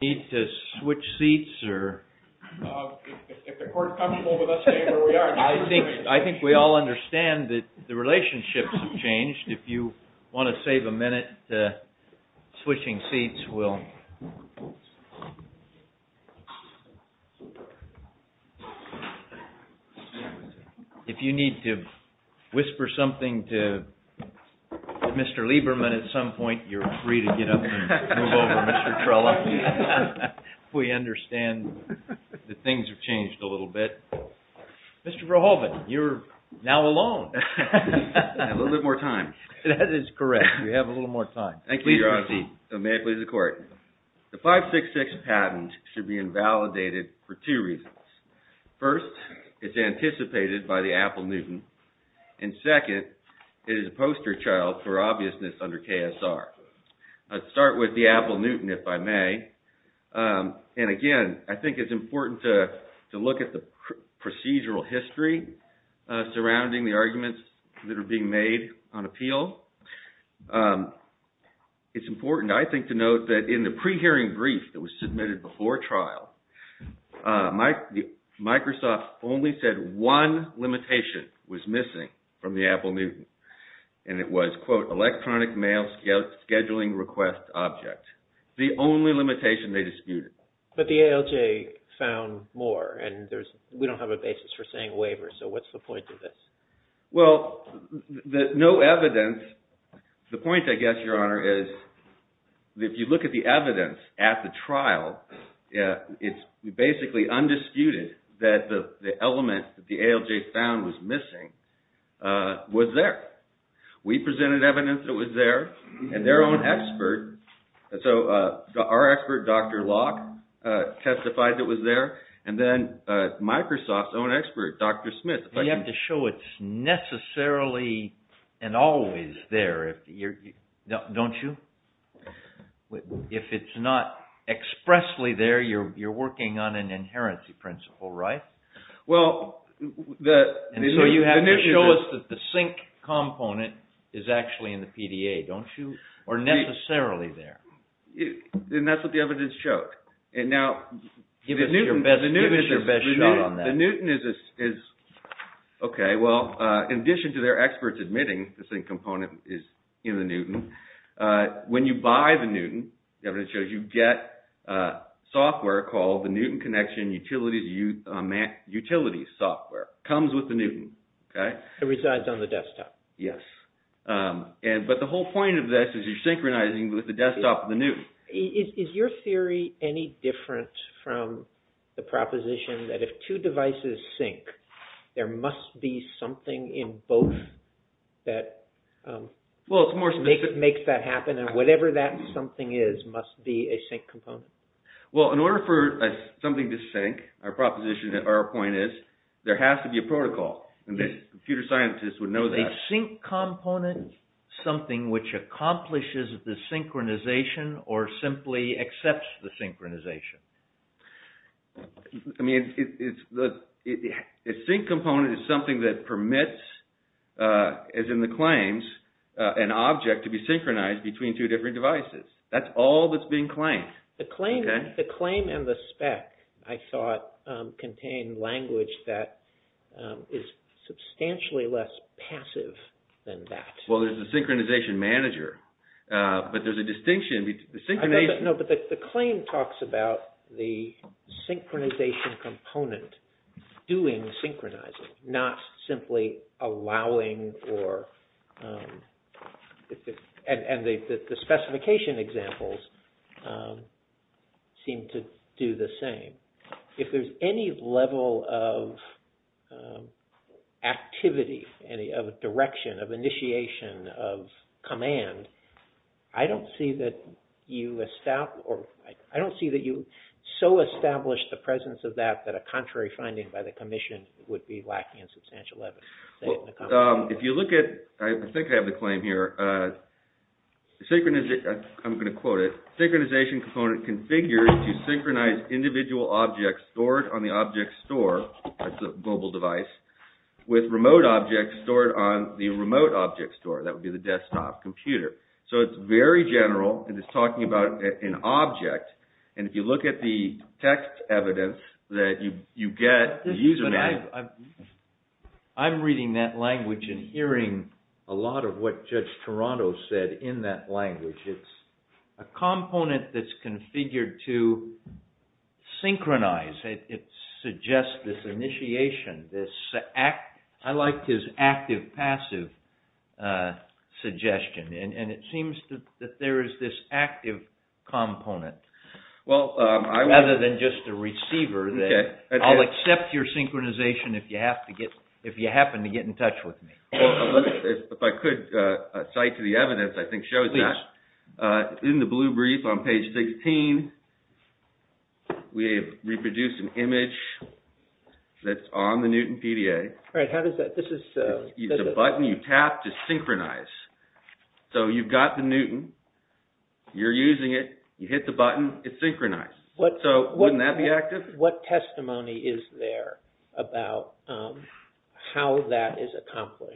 I think we all understand that the relationships have changed. If you want to save a minute, switching seats will. If you need to whisper something to Mr. Lieberman at some point, you're free to get up and move over, Mr. Trella. We understand that things have changed a little bit. Mr. Verhoeven, you're now alone. I have a little bit more time. That is correct. You have a little more time. Thank you, Your Honor. May I please have the court? The 566 patent should be invalidated for two reasons. First, it's anticipated by the Apple Newton, and second, it is a poster child for obviousness under KSR. I'll start with the Apple Newton, if I may. And again, I think it's important to look at the procedural history surrounding the arguments that are being made on appeal. It's important, I think, to note that in the pre-hearing brief that was submitted before trial, Microsoft only said one limitation was missing from the Apple Newton. And it was, quote, electronic mail scheduling request object. The only limitation they disputed. But the ALJ found more, and we don't have a basis for saying waiver, so what's the point of this? Well, no evidence. The point, I guess, Your Honor, is if you look at the evidence at the trial, it's basically undisputed that the element that the ALJ found was missing was there. We presented evidence that was there, and their own expert, so our expert, Dr. Locke, testified that it was there, and then Microsoft's own expert, Dr. Smith. You have to show it's necessarily and always there, don't you? If it's not expressly there, you're working on an inherency principle, right? And so you have to show us that the sync component is actually in the PDA, don't you? Or necessarily there. And that's what the evidence showed. And now, the Newton is, okay, well, in addition to their experts admitting the sync component is in the Newton, when you buy the Newton, the evidence shows you get software called the Newton Connection Utilities Software. It comes with the Newton, okay? It resides on the desktop. Yes. But the whole point of this is you're synchronizing with the desktop of the Newton. Is your theory any different from the proposition that if two devices sync, there must be something in both that makes that happen, and whatever that something is must be a sync component? Well, in order for something to sync, our proposition, our point is, there has to be a protocol. Computer scientists would know that. Is a sync component something which accomplishes the synchronization or simply accepts the synchronization? I mean, a sync component is something that permits, as in the claims, an object to be synchronized between two different devices. That's all that's being claimed. The claim and the spec, I thought, contained language that is substantially less passive than that. Well, there's a synchronization manager, but there's a distinction. No, but the claim talks about the synchronization component doing synchronizing, not simply allowing or, and the specification examples seem to do the same. If there's any level of activity, of direction, of initiation, of command, I don't see that you so establish the presence of that that a contrary finding by the commission would be lacking in substantial evidence. Well, if you look at, I think I have the claim here, synchronization, I'm going to quote it, synchronization component configures to synchronize individual objects stored on the object store, that's a mobile device, with remote objects stored on the remote object store, that would be the desktop computer. So, it's very general, and it's talking about an object, and if you look at the text evidence that you get, the user manager. I'm reading that language and hearing a lot of what Judge Toronto said in that language. It's a component that's configured to synchronize. It suggests this initiation, this, I like his active-passive suggestion, and it seems that there is this active component. Rather than just a receiver, I'll accept your synchronization if you happen to get in touch with me. If I could cite to the evidence, I think it shows that. In the blue brief on page 16, we have reproduced an image that's on the Newton PDA. Alright, how does that, this is... It's a button you tap to synchronize. So, you've got the Newton, you're using it, you hit the button, it's synchronized. So, wouldn't that be active? What testimony is there about how that is accomplished?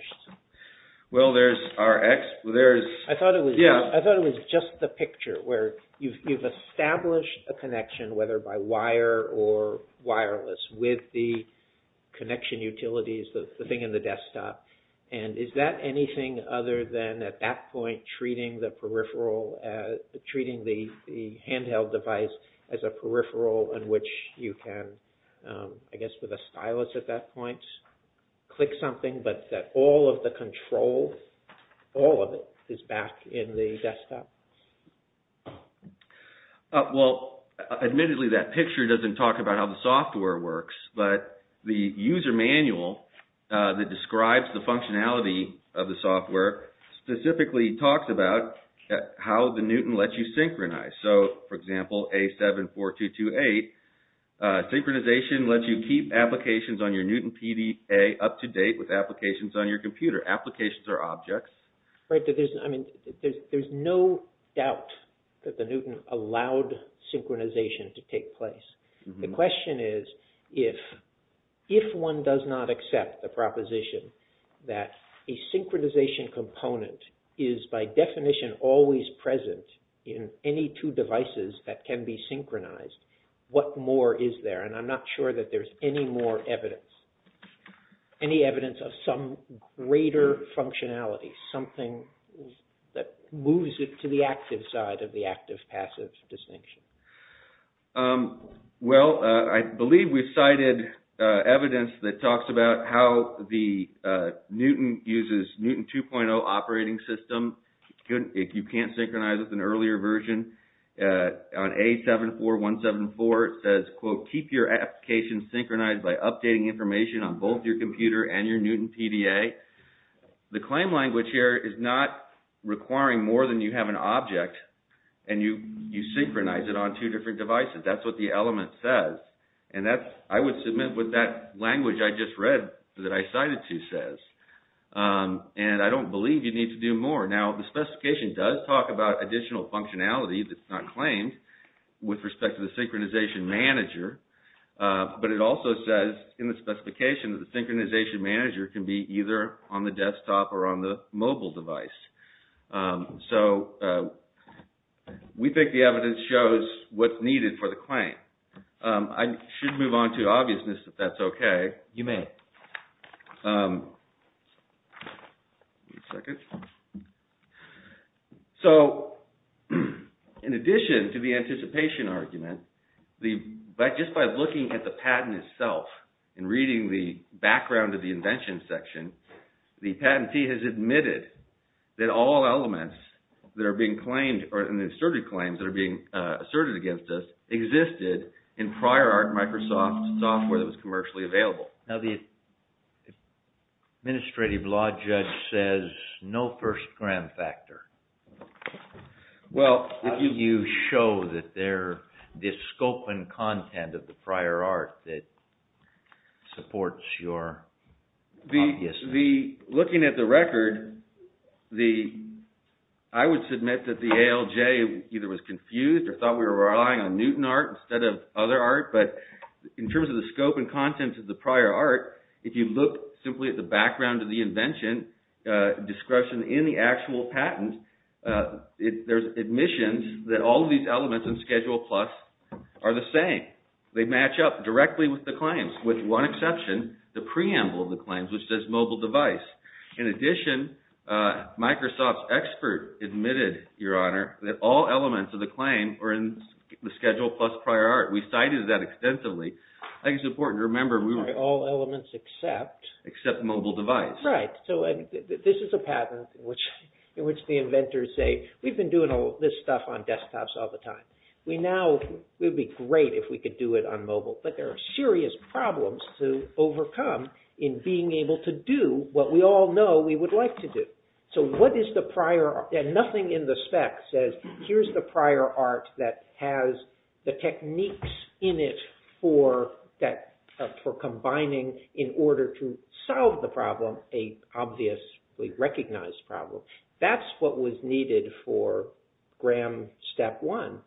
Well, there's... I thought it was just the picture where you've established a connection, whether by wire or wireless, with the connection utilities, the thing in the desktop. And is that anything other than, at that point, treating the peripheral, treating the handheld device as a peripheral in which you can, I guess with a stylus at that point, click something, but that all of the control, all of it, is back in the desktop? Well, admittedly, that picture doesn't talk about how the software works, but the user manual that describes the functionality of the software specifically talks about how the Newton lets you synchronize. So, for example, A74228, synchronization lets you keep applications on your Newton PDA up to date with applications on your computer. Applications are objects. There's no doubt that the Newton allowed synchronization to take place. The question is, if one does not accept the proposition that a synchronization component is by definition always present in any two devices that can be synchronized, what more is there? And I'm not sure that there's any more evidence, any evidence of some greater functionality, something that moves it to the active side of the active-passive distinction. Well, I believe we've cited evidence that talks about how the Newton uses Newton 2.0 operating system. You can't synchronize with an earlier version. On A74174, it says, quote, keep your application synchronized by updating information on both your computer and your Newton PDA. The claim language here is not requiring more than you have an object and you synchronize it on two different devices. That's what the element says. And I would submit what that language I just read that I cited to says. And I don't believe you need to do more. Now, the specification does talk about additional functionality that's not claimed with respect to the synchronization manager. But it also says in the specification that the synchronization manager can be either on the desktop or on the mobile device. So, we think the evidence shows what's needed for the claim. I should move on to obviousness, if that's okay. You may. Wait a second. So, in addition to the anticipation argument, just by looking at the patent itself and reading the background of the invention section, the patentee has admitted that all elements that are being claimed or asserted claims that are being asserted against us existed in prior Microsoft software that was commercially available. Now, the administrative law judge says no first gram factor. Well, I think you show that there is scope and content of the prior art that supports your obviousness. Looking at the record, I would submit that the ALJ either was confused or thought we were relying on Newton art instead of other art. But in terms of the scope and content of the prior art, if you look simply at the background of the invention, discretion in the actual patent, there's admissions that all of these elements in Schedule Plus are the same. They match up directly with the claims, with one exception, the preamble of the claims, which says mobile device. In addition, Microsoft's expert admitted, Your Honor, that all elements of the claim are in the Schedule Plus prior art. We cited that extensively. I think it's important to remember we were... All elements except... Except mobile device. Right. So this is a pattern in which the inventors say, We've been doing all this stuff on desktops all the time. We now, it would be great if we could do it on mobile. But there are serious problems to overcome in being able to do what we all know we would like to do. So what is the prior... And nothing in the spec says, Here's the prior art that has the techniques in it for combining in order to solve the problem, a obviously recognized problem. That's what was needed for GRAM Step 1.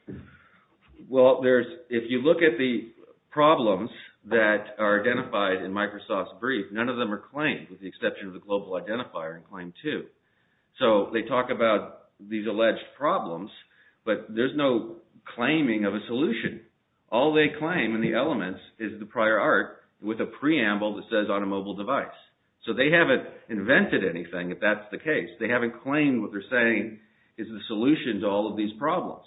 Well, there's... If you look at the problems that are identified in Microsoft's brief, none of them are claimed with the exception of the global identifier in Claim 2. So they talk about these alleged problems, but there's no claiming of a solution. All they claim in the elements is the prior art with a preamble that says on a mobile device. So they haven't invented anything, if that's the case. They haven't claimed what they're saying is the solution to all of these problems.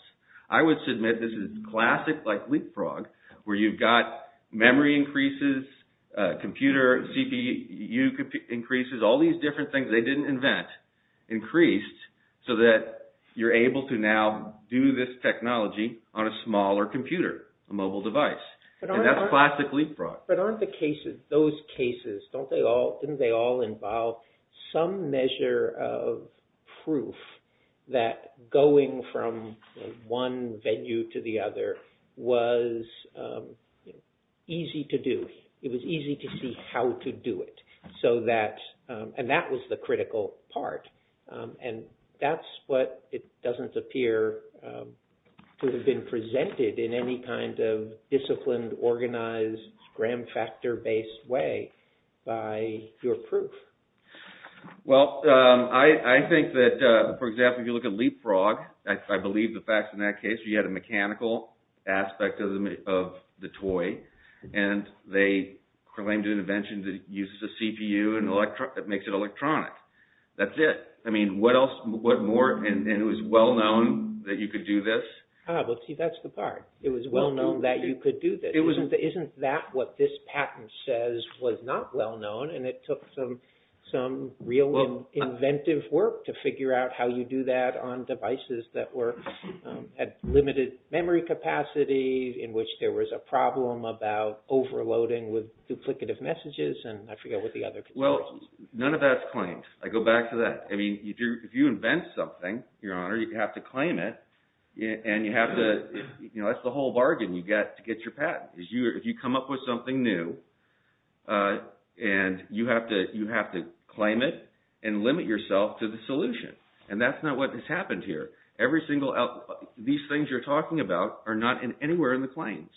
I would submit this is classic, like LeapFrog, where you've got memory increases, computer CPU increases, all these different things they didn't invent increased so that you're able to now do this technology on a smaller computer, a mobile device. And that's classic LeapFrog. But aren't the cases, those cases, don't they all, didn't they all involve some measure of proof that going from one venue to the other was easy to do? It was easy to see how to do it. So that... And that was the critical part. And that's what it doesn't appear to have been presented in any kind of disciplined, organized, gram-factor-based way by your proof. Well, I think that, for example, if you look at LeapFrog, I believe the facts in that case, you had a mechanical aspect of the toy. And they claimed an invention that uses a CPU and makes it electronic. That's it. I mean, what else, what more, and it was well known that you could do this? Ah, well, see, that's the part. It was well known that you could do this. Isn't that what this patent says was not well known, and it took some real inventive work to figure out how you do that on devices that had limited memory capacity, in which there was a problem about overloading with duplicative messages, and I forget what the other... Well, none of that's claimed. I go back to that. I mean, if you invent something, Your Honor, you have to claim it, and you have to... You know, that's the whole bargain you get to get your patent. If you come up with something new, and you have to claim it and limit yourself to the solution. And that's not what has happened here. Every single... These things you're talking about are not anywhere in the claims.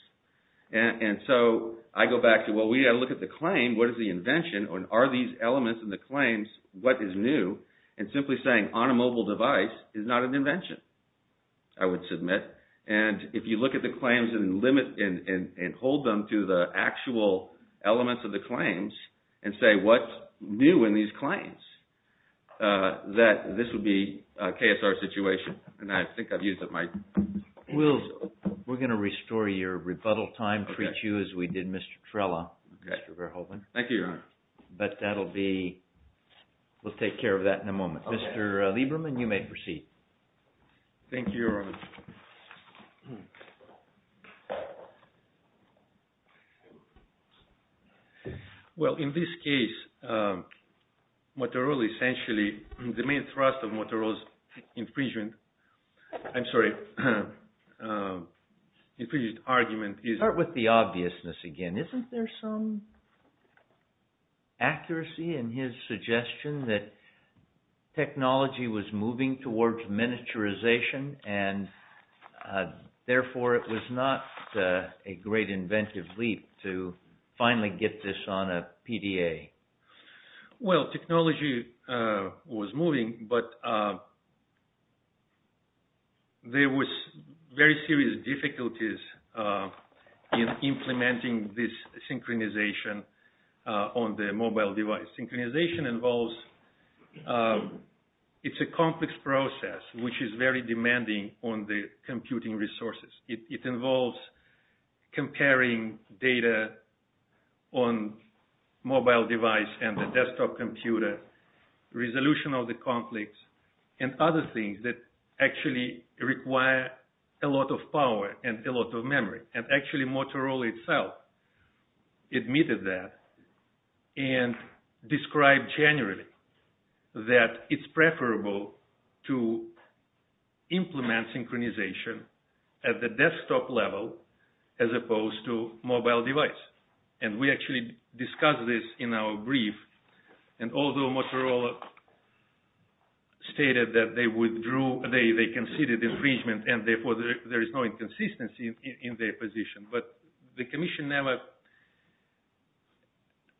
And so, I go back to, well, we've got to look at the claim, what is the invention, and are these elements in the claims, what is new? And simply saying, on a mobile device, is not an invention, I would submit. And if you look at the claims and limit and hold them to the actual elements of the claims, and say, what's new in these claims, that this would be a KSR situation. And I think I've used up my... We're going to restore your rebuttal time, treat you as we did Mr. Trella, Mr. Verhoeven. Thank you, Your Honor. But that'll be... We'll take care of that in a moment. Mr. Lieberman, you may proceed. Thank you, Your Honor. Well, in this case, Motorola essentially, the main thrust of Motorola's infringement, I'm sorry, infringement argument is... Accuracy in his suggestion that technology was moving towards miniaturization, and therefore it was not a great inventive leap to finally get this on a PDA. Well, technology was moving, but there was very serious difficulties in implementing this synchronization on the mobile device. Synchronization involves... It's a complex process, which is very demanding on the computing resources. It involves comparing data on mobile device and the desktop computer, resolution of the conflicts, and other things that actually require a lot of power and a lot of memory. And actually, Motorola itself admitted that and described generally that it's preferable to implement synchronization at the desktop level as opposed to mobile device. And we actually discussed this in our brief, and although Motorola stated that they withdrew, they considered infringement, and therefore there is no inconsistency in their position. But the Commission never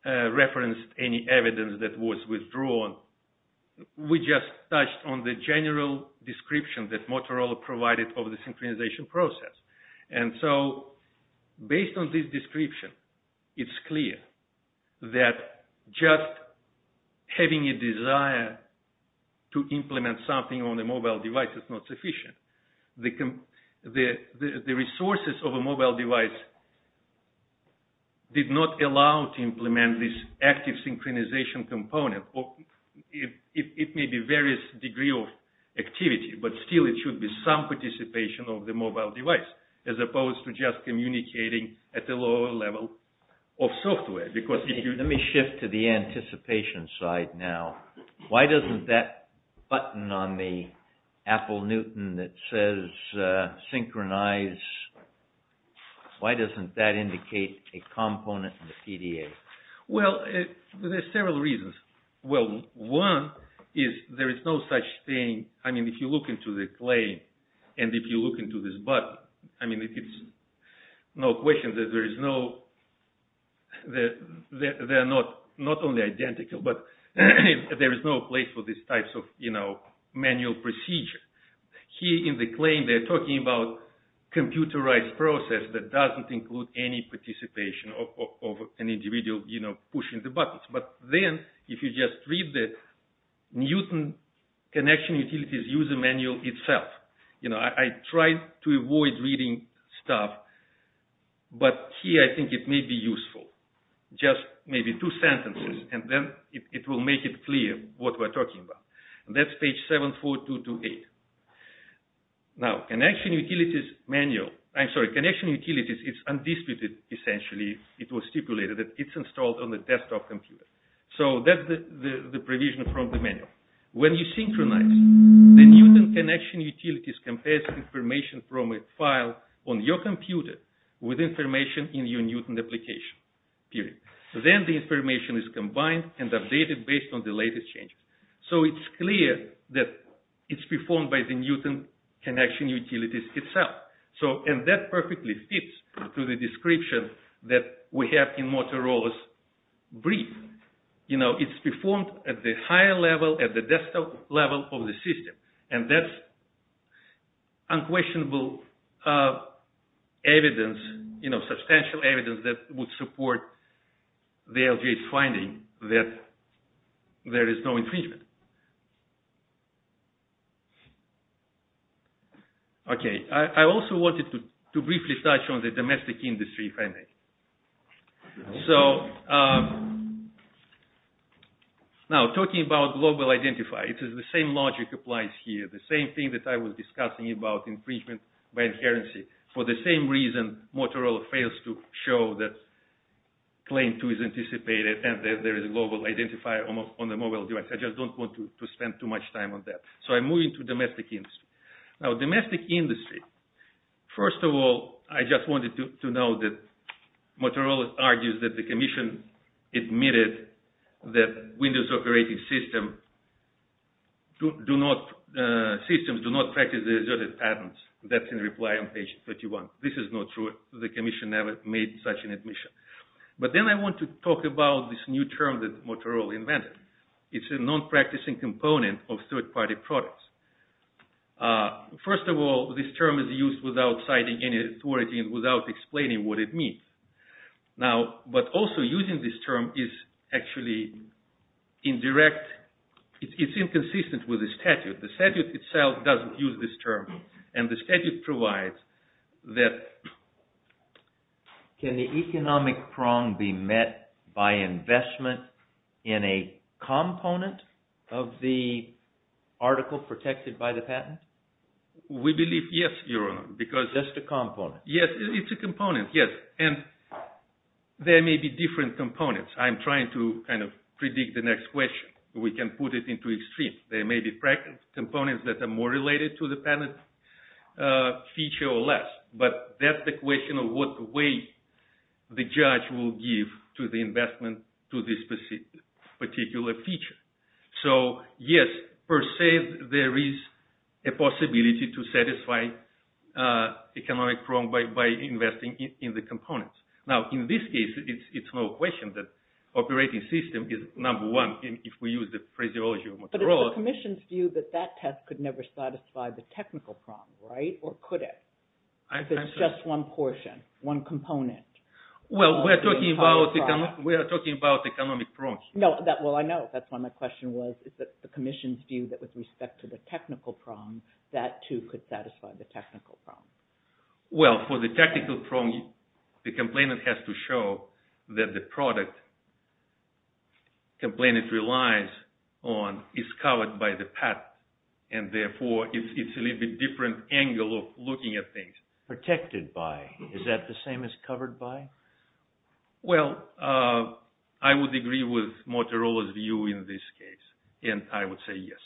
referenced any evidence that was withdrawn. We just touched on the general description that Motorola provided of the synchronization process. And so, based on this description, it's clear that just having a desire to implement something on a mobile device is not sufficient. The resources of a mobile device did not allow to implement this active synchronization component. It may be various degree of activity, but still it should be some participation of the mobile device, as opposed to just communicating at the lower level of software. Let me shift to the anticipation side now. Why doesn't that button on the Apple Newton that says synchronize, why doesn't that indicate a component in the PDA? Well, there are several reasons. Well, one is there is no such thing, I mean, if you look into the claim, and if you look into this button, I mean, it's no question that there is no, they are not only identical, but there is no place for this type of manual procedure. Here in the claim they are talking about computerized process that doesn't include any participation of an individual pushing the buttons. But then, if you just read the Newton Connection Utilities User Manual itself, you know, I tried to avoid reading stuff, but here I think it may be useful. Just maybe two sentences, and then it will make it clear what we're talking about. That's page 74228. Now, Connection Utilities Manual, I'm sorry, Connection Utilities, it's undisputed, essentially, it was stipulated that it's installed on the desktop computer. So that's the provision from the manual. When you synchronize, the Newton Connection Utilities compares information from a file on your computer with information in your Newton application. Then the information is combined and updated based on the latest changes. So it's clear that it's performed by the Newton Connection Utilities itself. And that perfectly fits to the description that we have in Motorola's brief. You know, it's performed at the higher level, at the desktop level of the system. And that's unquestionable evidence, you know, substantial evidence that would support the LGA's finding that there is no infringement. Okay, I also wanted to briefly touch on the domestic industry, if I may. So, now, talking about global identifier, it is the same logic applies here. The same thing that I was discussing about infringement by inherency. For the same reason, Motorola fails to show that claim two is anticipated and that there is a global identifier on the mobile device. I just don't want to spend too much time on that. So I'm moving to domestic industry. Now, domestic industry. First of all, I just wanted to know that Motorola argues that the commission admitted that Windows operating systems do not practice the asserted patents. That's in reply on page 31. This is not true. The commission never made such an admission. But then I want to talk about this new term that Motorola invented. It's a non-practicing component of third-party products. First of all, this term is used without citing any authority and without explaining what it means. Now, but also using this term is actually indirect. It's inconsistent with the statute. The statute itself doesn't use this term. And the statute provides that… Can the economic prong be met by investment in a component of the article protected by the patent? We believe yes, Your Honor, because… Just a component. Yes, it's a component, yes. And there may be different components. I'm trying to kind of predict the next question. We can put it into extreme. There may be components that are more related to the patent feature or less. But that's the question of what way the judge will give to the investment to this particular feature. So yes, per se, there is a possibility to satisfy economic prong by investing in the components. Now, in this case, it's no question that operating system is number one if we use the phraseology of Motorola. But it's the commission's view that that test could never satisfy the technical prong, right? Or could it? If it's just one portion, one component. Well, we're talking about economic prongs. Well, I know. That's why my question was, is it the commission's view that with respect to the technical prong, that too could satisfy the technical prong? Well, for the technical prong, the complainant has to show that the product the complainant relies on is covered by the patent. And therefore, it's a little bit different angle of looking at things. Protected by. Is that the same as covered by? Well, I would agree with Motorola's view in this case. And I would say yes.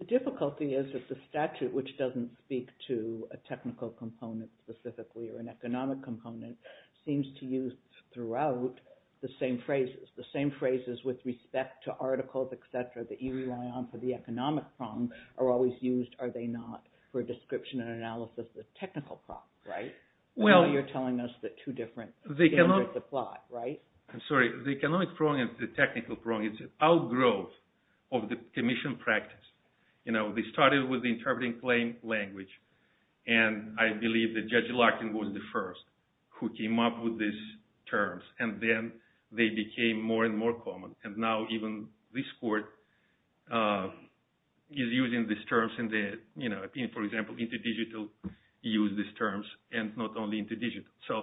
The difficulty is that the statute, which doesn't speak to a technical component specifically or an economic component, seems to use throughout the same phrases. The same phrases with respect to articles, etc. that you rely on for the economic prong are always used, are they not, for description and analysis of technical prongs, right? Well, you're telling us that two different standards apply, right? I'm sorry. The economic prong and the technical prong is an outgrowth of the commission practice. They started with the interpreting plain language. And I believe that Judge Larkin was the first who came up with these terms. And then they became more and more common. And now even this court is using these terms. For example, interdigital use these terms and not only interdigital. So,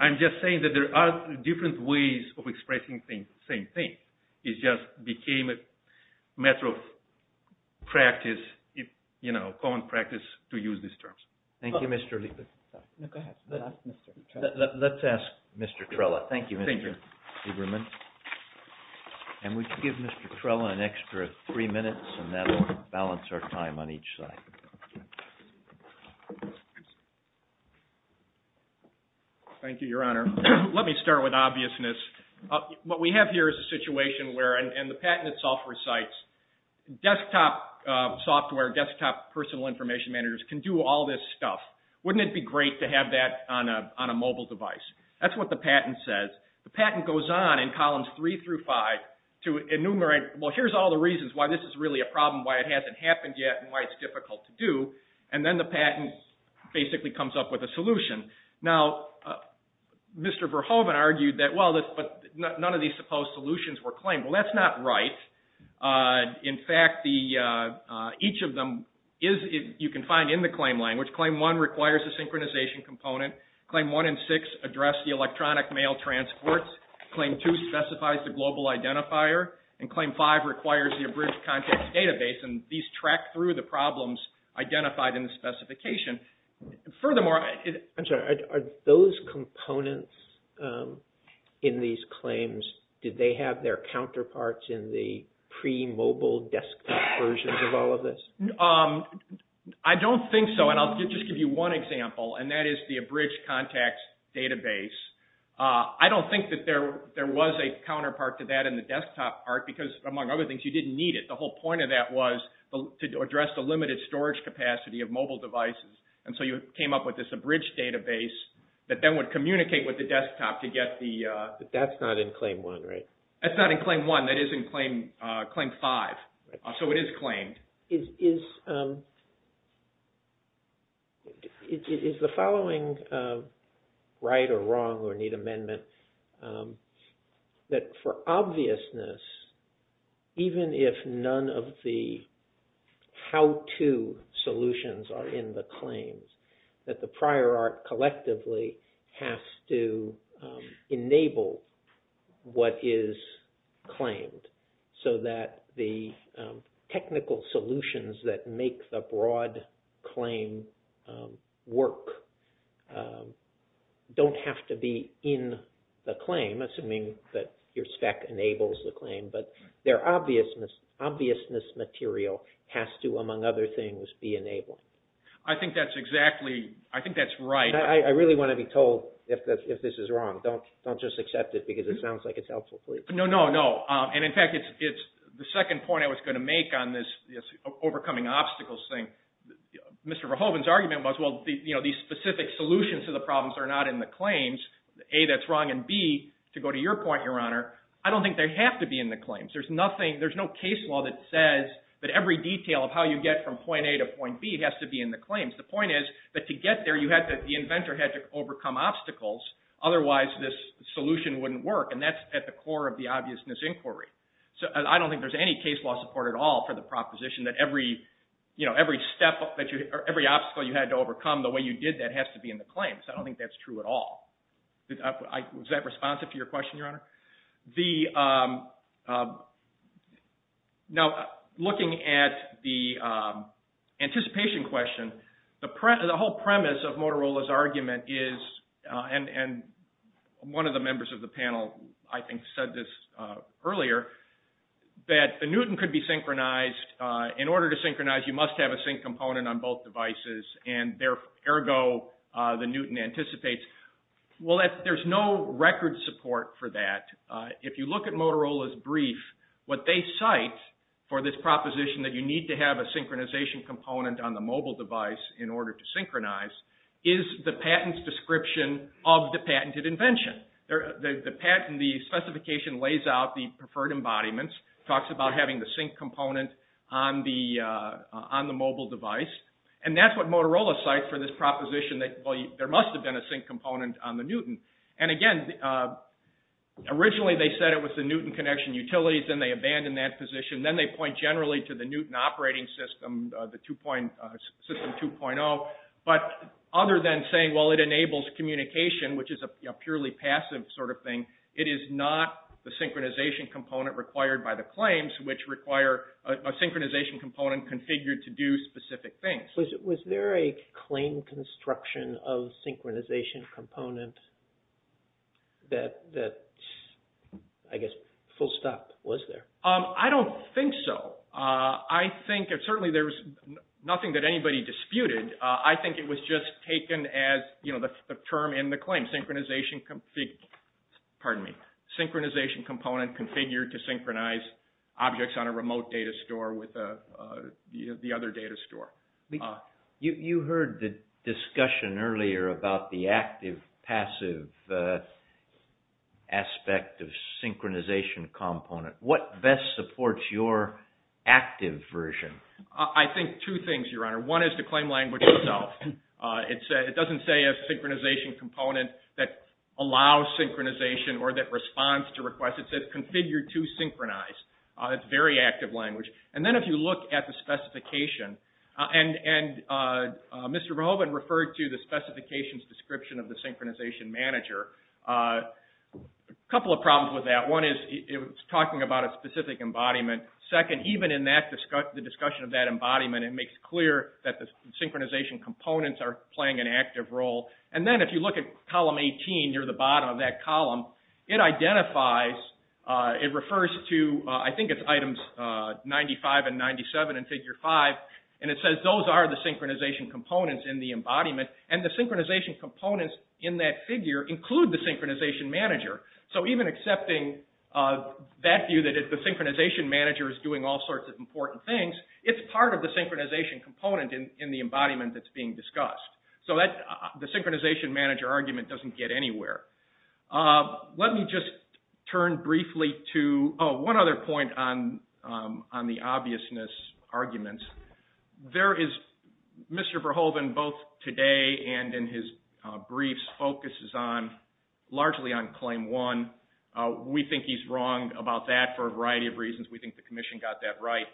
I'm just saying that there are different ways of expressing the same thing. It just became a matter of practice, common practice to use these terms. Thank you, Mr. Lieberman. Let's ask Mr. Trella. Thank you, Mr. Lieberman. And we can give Mr. Trella an extra three minutes and that will balance our time on each side. Thank you, Your Honor. Let me start with obviousness. What we have here is a situation where, and the patent itself recites, desktop software, desktop personal information managers can do all this stuff. Wouldn't it be great to have that on a mobile device? That's what the patent says. The patent goes on in columns three through five to enumerate, well, here's all the reasons why this is really a problem, why it hasn't happened yet, and why it's difficult to do. And then the patent basically comes up with a solution. Now, Mr. Verhoeven argued that, well, none of these supposed solutions were claimed. Well, that's not right. In fact, each of them you can find in the claim language. Claim one requires a synchronization component. Claim one and six address the electronic mail transports. Claim two specifies the global identifier. And claim five requires the abridged context database. And these track through the problems identified in the specification. Furthermore, I'm sorry, are those components in these claims, did they have their counterparts in the pre-mobile desktop versions of all of this? I don't think so, and I'll just give you one example, and that is the abridged context database. I don't think that there was a counterpart to that in the desktop part because, among other things, you didn't need it. The whole point of that was to address the limited storage capacity of mobile devices, and so you came up with this abridged database that then would communicate with the desktop to get the... But that's not in claim one, right? That's not in claim one. That is in claim five. So it is claimed. Is the following right or wrong, or need amendment, that for obviousness, even if none of the how-to solutions are in the claims, that the prior art collectively has to enable what is claimed? So that the technical solutions that make the broad claim work don't have to be in the claim, assuming that your spec enables the claim, but their obviousness material has to, among other things, be enabled? I think that's exactly... I think that's right. I really want to be told if this is wrong. Don't just accept it because it sounds like it's helpful, please. No, no, no. And in fact, it's the second point I was going to make on this overcoming obstacles thing. Mr. Verhoeven's argument was, well, these specific solutions to the problems are not in the claims, A, that's wrong, and B, to go to your point, Your Honor, I don't think they have to be in the claims. There's no case law that says that every detail of how you get from point A to point B has to be in the claims. The point is that to get there, the inventor had to overcome obstacles, otherwise this solution wouldn't work, and that's at the core of the obviousness inquiry. So I don't think there's any case law support at all for the proposition that every obstacle you had to overcome, the way you did that, has to be in the claims. I don't think that's true at all. Is that responsive to your question, Your Honor? Now, looking at the anticipation question, the whole premise of Motorola's argument is, and one of the members of the panel, I think, said this earlier, that the Newton could be synchronized. In order to synchronize, you must have a sync component on both devices, and ergo, the Newton anticipates. Well, there's no record support for that. If you look at Motorola's brief, what they cite for this proposition that you need to have a synchronization component on the mobile device in order to synchronize is the patent's description of the patented invention. The specification lays out the preferred embodiments, talks about having the sync component on the mobile device, and that's what Motorola cites for this proposition that there must have been a sync component on the Newton. And again, originally they said it was the Newton connection utilities, then they abandoned that position, then they point generally to the Newton operating system, the system 2.0, but other than saying, well, it enables communication, which is a purely passive sort of thing, it is not the synchronization component required by the claims, which require a synchronization component configured to do specific things. Was there a claim construction of synchronization component that, I guess, full stop was there? I don't think so. I think, and certainly there's nothing that anybody disputed, I think it was just taken as the term in the claim, synchronization component configured to synchronize objects on a remote data store with the other data store. You heard the discussion earlier about the active-passive aspect of synchronization component. What best supports your active version? I think two things, Your Honor. One is the claim language itself. It doesn't say a synchronization component that allows synchronization or that responds to requests. It says configured to synchronize. It's very active language. And then if you look at the specification, and Mr. Rehobond referred to the specifications description of the synchronization manager. A couple of problems with that. One is it was talking about a specific embodiment. Second, even in the discussion of that embodiment, it makes clear that the synchronization components are playing an active role. And then if you look at column 18, near the bottom of that column, it identifies, it refers to, I think it's items 95 and 97 in figure 5. And it says those are the synchronization components in the embodiment. And the synchronization components in that figure include the synchronization manager. So even accepting that view that the synchronization manager is doing all sorts of important things, it's part of the synchronization component in the embodiment that's being discussed. So the synchronization manager argument doesn't get anywhere. Let me just turn briefly to, oh, one other point on the obviousness arguments. There is, Mr. Verhoeven, both today and in his briefs, focuses on, largely on claim 1. We think he's wrong about that for a variety of reasons. We think the Commission got that right.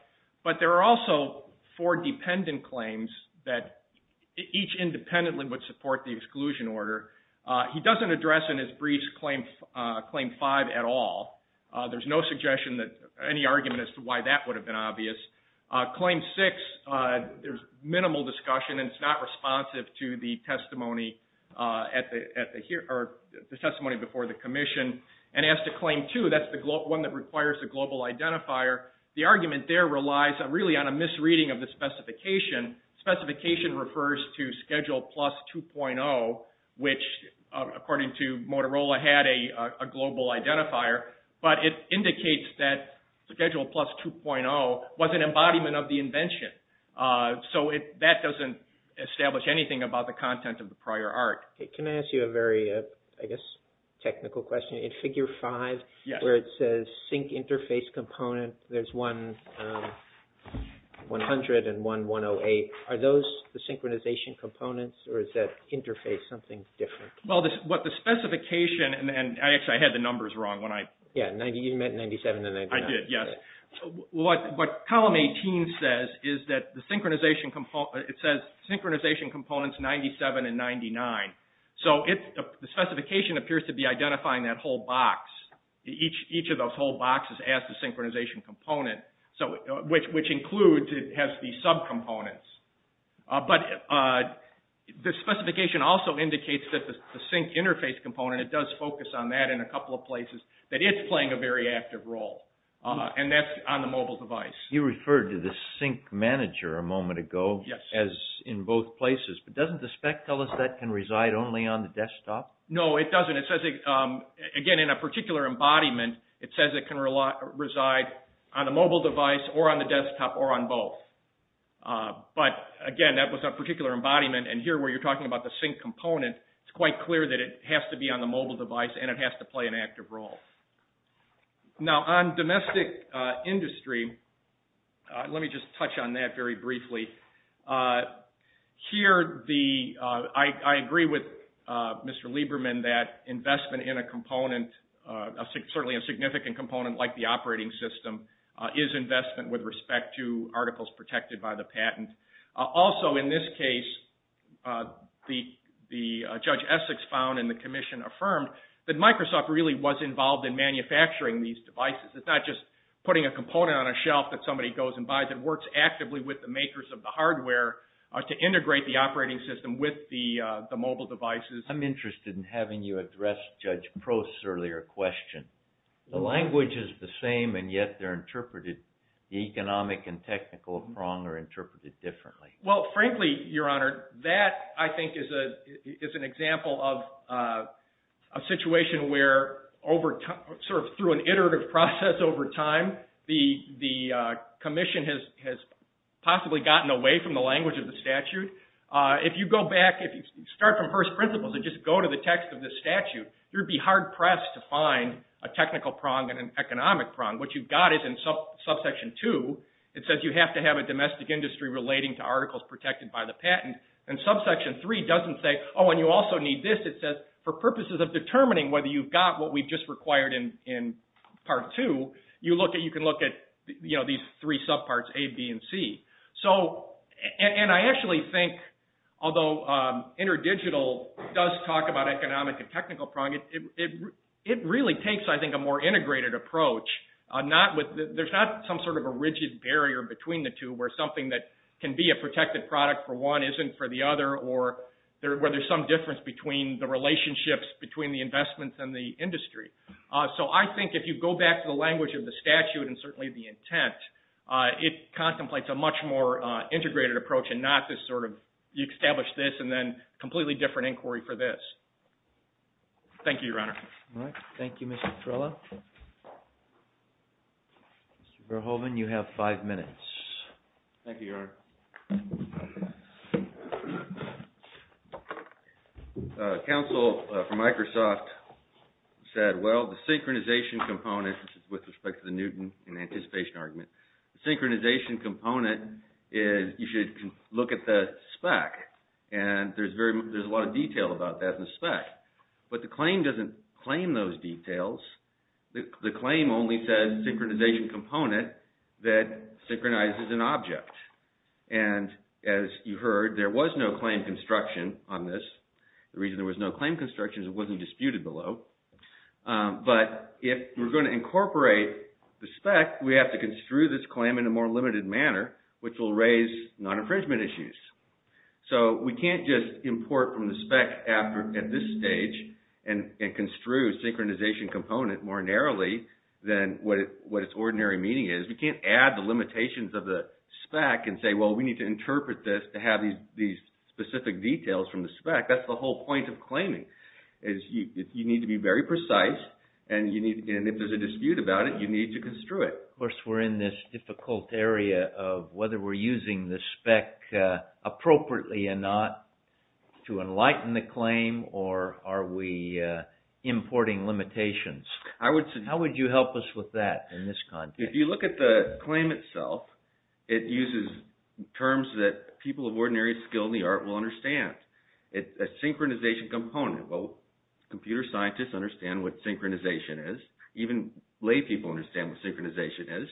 But there are also four dependent claims that each independently would support the exclusion order. He doesn't address in his briefs claim 5 at all. There's no suggestion that, any argument as to why that would have been obvious. Claim 6, there's minimal discussion and it's not responsive to the testimony before the Commission. And as to claim 2, that's the one that requires the global identifier. The argument there relies really on a misreading of the specification. Specification refers to schedule plus 2.0, which according to Motorola had a global identifier. But it indicates that schedule plus 2.0 was an embodiment of the invention. So that doesn't establish anything about the content of the prior art. Can I ask you a very, I guess, technical question? In figure 5, where it says sync interface component, there's one 100 and one 108. Are those the synchronization components or is that interface something different? Well, what the specification, and actually I had the numbers wrong when I... Yeah, you meant 97 and 99. I did, yes. What column 18 says is that the synchronization component, it says synchronization components 97 and 99. So the specification appears to be identifying that whole box. Each of those whole boxes asks the synchronization component, which includes, has the sub-components. But the specification also indicates that the sync interface component, it does focus on that in a couple of places, that it's playing a very active role. And that's on the mobile device. You referred to the sync manager a moment ago as in both places. But doesn't the spec tell us that can reside only on the desktop? No, it doesn't. Again, in a particular embodiment, it says it can reside on a mobile device or on the desktop or on both. But again, that was a particular embodiment. And here where you're talking about the sync component, it's quite clear that it has to be on the mobile device and it has to play an active role. Now, on domestic industry, let me just touch on that very briefly. Here, I agree with Mr. Lieberman that investment in a component, certainly a significant component like the operating system, is investment with respect to articles protected by the patent. Also, in this case, the Judge Essex found and the commission affirmed that Microsoft really was involved in manufacturing these devices. It's not just putting a component on a shelf that somebody goes and buys. It works actively with the makers of the hardware to integrate the operating system with the mobile devices. I'm interested in having you address Judge Prost's earlier question. The language is the same and yet they're interpreted, the economic and technical prong are interpreted differently. Well, frankly, Your Honor, that I think is an example of a situation where sort of through an iterative process over time, the commission has possibly gotten away from the language of the statute. If you go back, if you start from first principles and just go to the text of the statute, you'd be hard pressed to find a technical prong and an economic prong. What you've got is in subsection two, it says you have to have a domestic industry relating to articles protected by the patent. Subsection three doesn't say, oh, and you also need this. It says, for purposes of determining whether you've got what we've just required in part two, you can look at these three subparts, A, B, and C. I actually think, although InterDigital does talk about economic and technical prong, it really takes, I think, a more integrated approach. There's not some sort of a rigid barrier between the two where something that can be a protected product for one isn't for the other or where there's some difference between the relationships, between the investments and the industry. I think if you go back to the language of the statute and certainly the intent, it contemplates a much more integrated approach and not this sort of, you establish this and then a completely different inquiry for this. Thank you, Your Honor. Thank you, Mr. Torello. Mr. Verhoeven, you have five minutes. Thank you, Your Honor. Counsel from Microsoft said, well, the synchronization component with respect to the Newton and anticipation argument. Synchronization component is, you should look at the spec and there's a lot of detail about that in the spec. But the claim doesn't claim those details. The claim only says synchronization component that synchronizes an object. And as you heard, there was no claim construction on this. The reason there was no claim construction is it wasn't disputed below. But if we're going to incorporate the spec, we have to construe this claim in a more limited manner, which will raise non-infringement issues. So we can't just import from the spec at this stage and construe synchronization component more narrowly than what its ordinary meaning is. We can't add the limitations of the spec and say, well, we need to interpret this to have these specific details from the spec. That's the whole point of claiming. You need to be very precise, and if there's a dispute about it, you need to construe it. Of course, we're in this difficult area of whether we're using the spec appropriately or not to enlighten the claim, or are we importing limitations? How would you help us with that in this context? If you look at the claim itself, it uses terms that people of ordinary skill in the art will understand. It's a synchronization component. Well, computer scientists understand what synchronization is. Even lay people understand what synchronization is.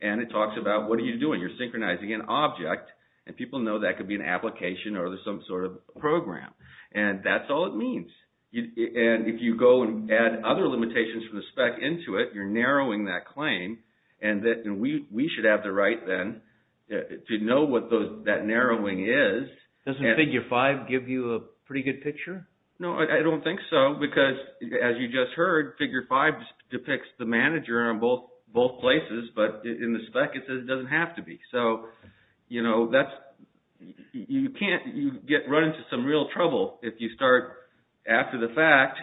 And it talks about what are you doing? You're synchronizing an object, and people know that could be an application or some sort of program. And that's all it means. And if you go and add other limitations from the spec into it, you're narrowing that claim, and we should have the right then to know what that narrowing is. Doesn't Figure 5 give you a pretty good picture? No, I don't think so. Because as you just heard, Figure 5 depicts the manager on both places, but in the spec it says it doesn't have to be. So, you know, that's... You can't run into some real trouble if you start, after the fact,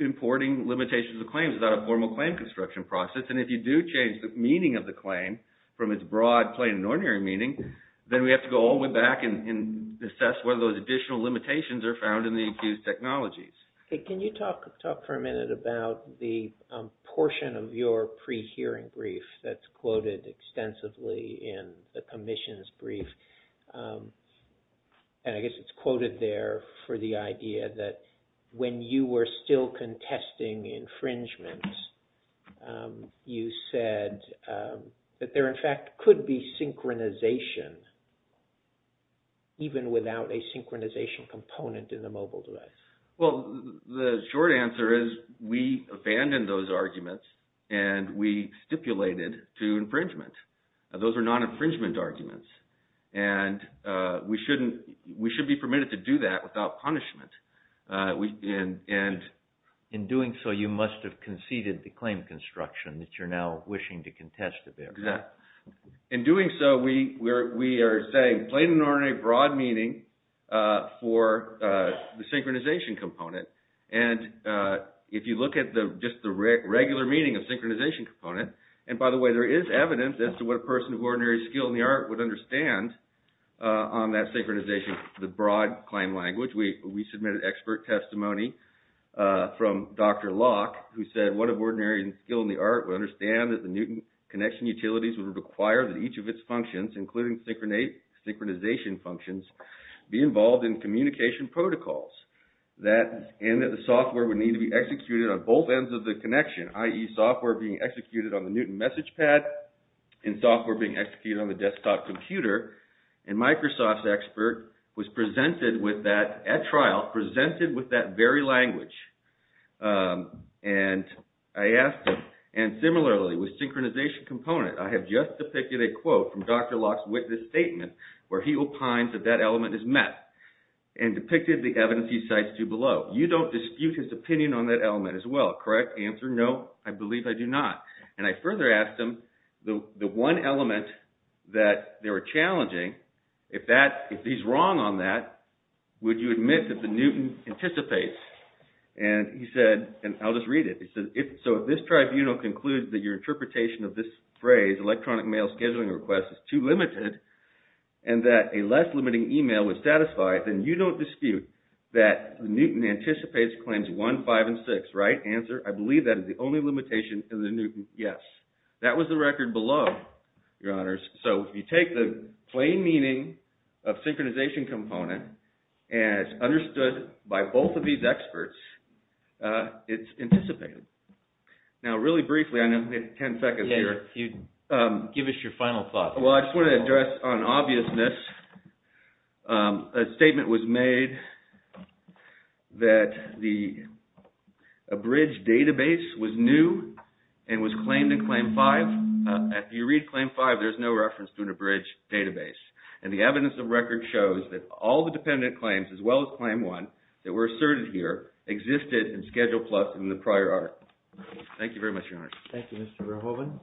importing limitations of claims without a formal claim construction process. And if you do change the meaning of the claim from its broad plain and ordinary meaning, then we have to go all the way back and assess whether those additional limitations are found in the accused technologies. Can you talk for a minute about the portion of your pre-hearing brief that's quoted extensively in the commission's brief? And I guess it's quoted there for the idea you said that there, in fact, could be synchronization even without a synchronization component in the mobile device. Well, the short answer is we abandoned those arguments and we stipulated to infringement. Those are non-infringement arguments. And we shouldn't... We should be permitted to do that without punishment. And... In doing so, you must have conceded the claim construction that you're now wishing to contest a bit. Exactly. In doing so, we are saying plain and ordinary broad meaning for the synchronization component. And if you look at just the regular meaning of synchronization component, and by the way, there is evidence as to what a person of ordinary skill in the art would understand on that synchronization the broad claim language. We submitted expert testimony from Dr. Locke, who said what of ordinary skill in the art would understand that the Newton connection utilities would require that each of its functions, including synchronization functions, be involved in communication protocols. And that the software would need to be executed on both ends of the connection, i.e. software being executed on the Newton message pad and software being executed on the desktop computer. And Microsoft's expert was presented with that and I asked him. And similarly, with synchronization component, I have just depicted a quote from Dr. Locke's witness statement where he opines that that element is meth and depicted the evidence he cites to below. You don't dispute his opinion on that element as well, correct? Answer, no, I believe I do not. And I further asked him the one element that they were challenging, if he's wrong on that, would you admit that the Newton anticipates? He said, so if this tribunal concludes that your interpretation of this phrase, electronic mail scheduling request, is too limited and that a less limiting email would satisfy it, then you don't dispute that Newton anticipates claims one, five, and six, right? Answer, I believe that is the only limitation in the Newton, yes. That was the record below, your honors. So if you take the plain meaning of synchronization component as understood by both of these experts, it's anticipated. Now really briefly, I know we have 10 seconds here. Give us your final thoughts. Well, I just want to address on obviousness, a statement was made that the abridged database was new and was claimed in claim five. If you read claim five, there's no reference to an abridged database. And the evidence of record shows that all the dependent claims, as well as claim one, that were asserted here, existed in Schedule Plus in the prior audit. Thank you very much, your honors. Thank you, Mr. Rohovan.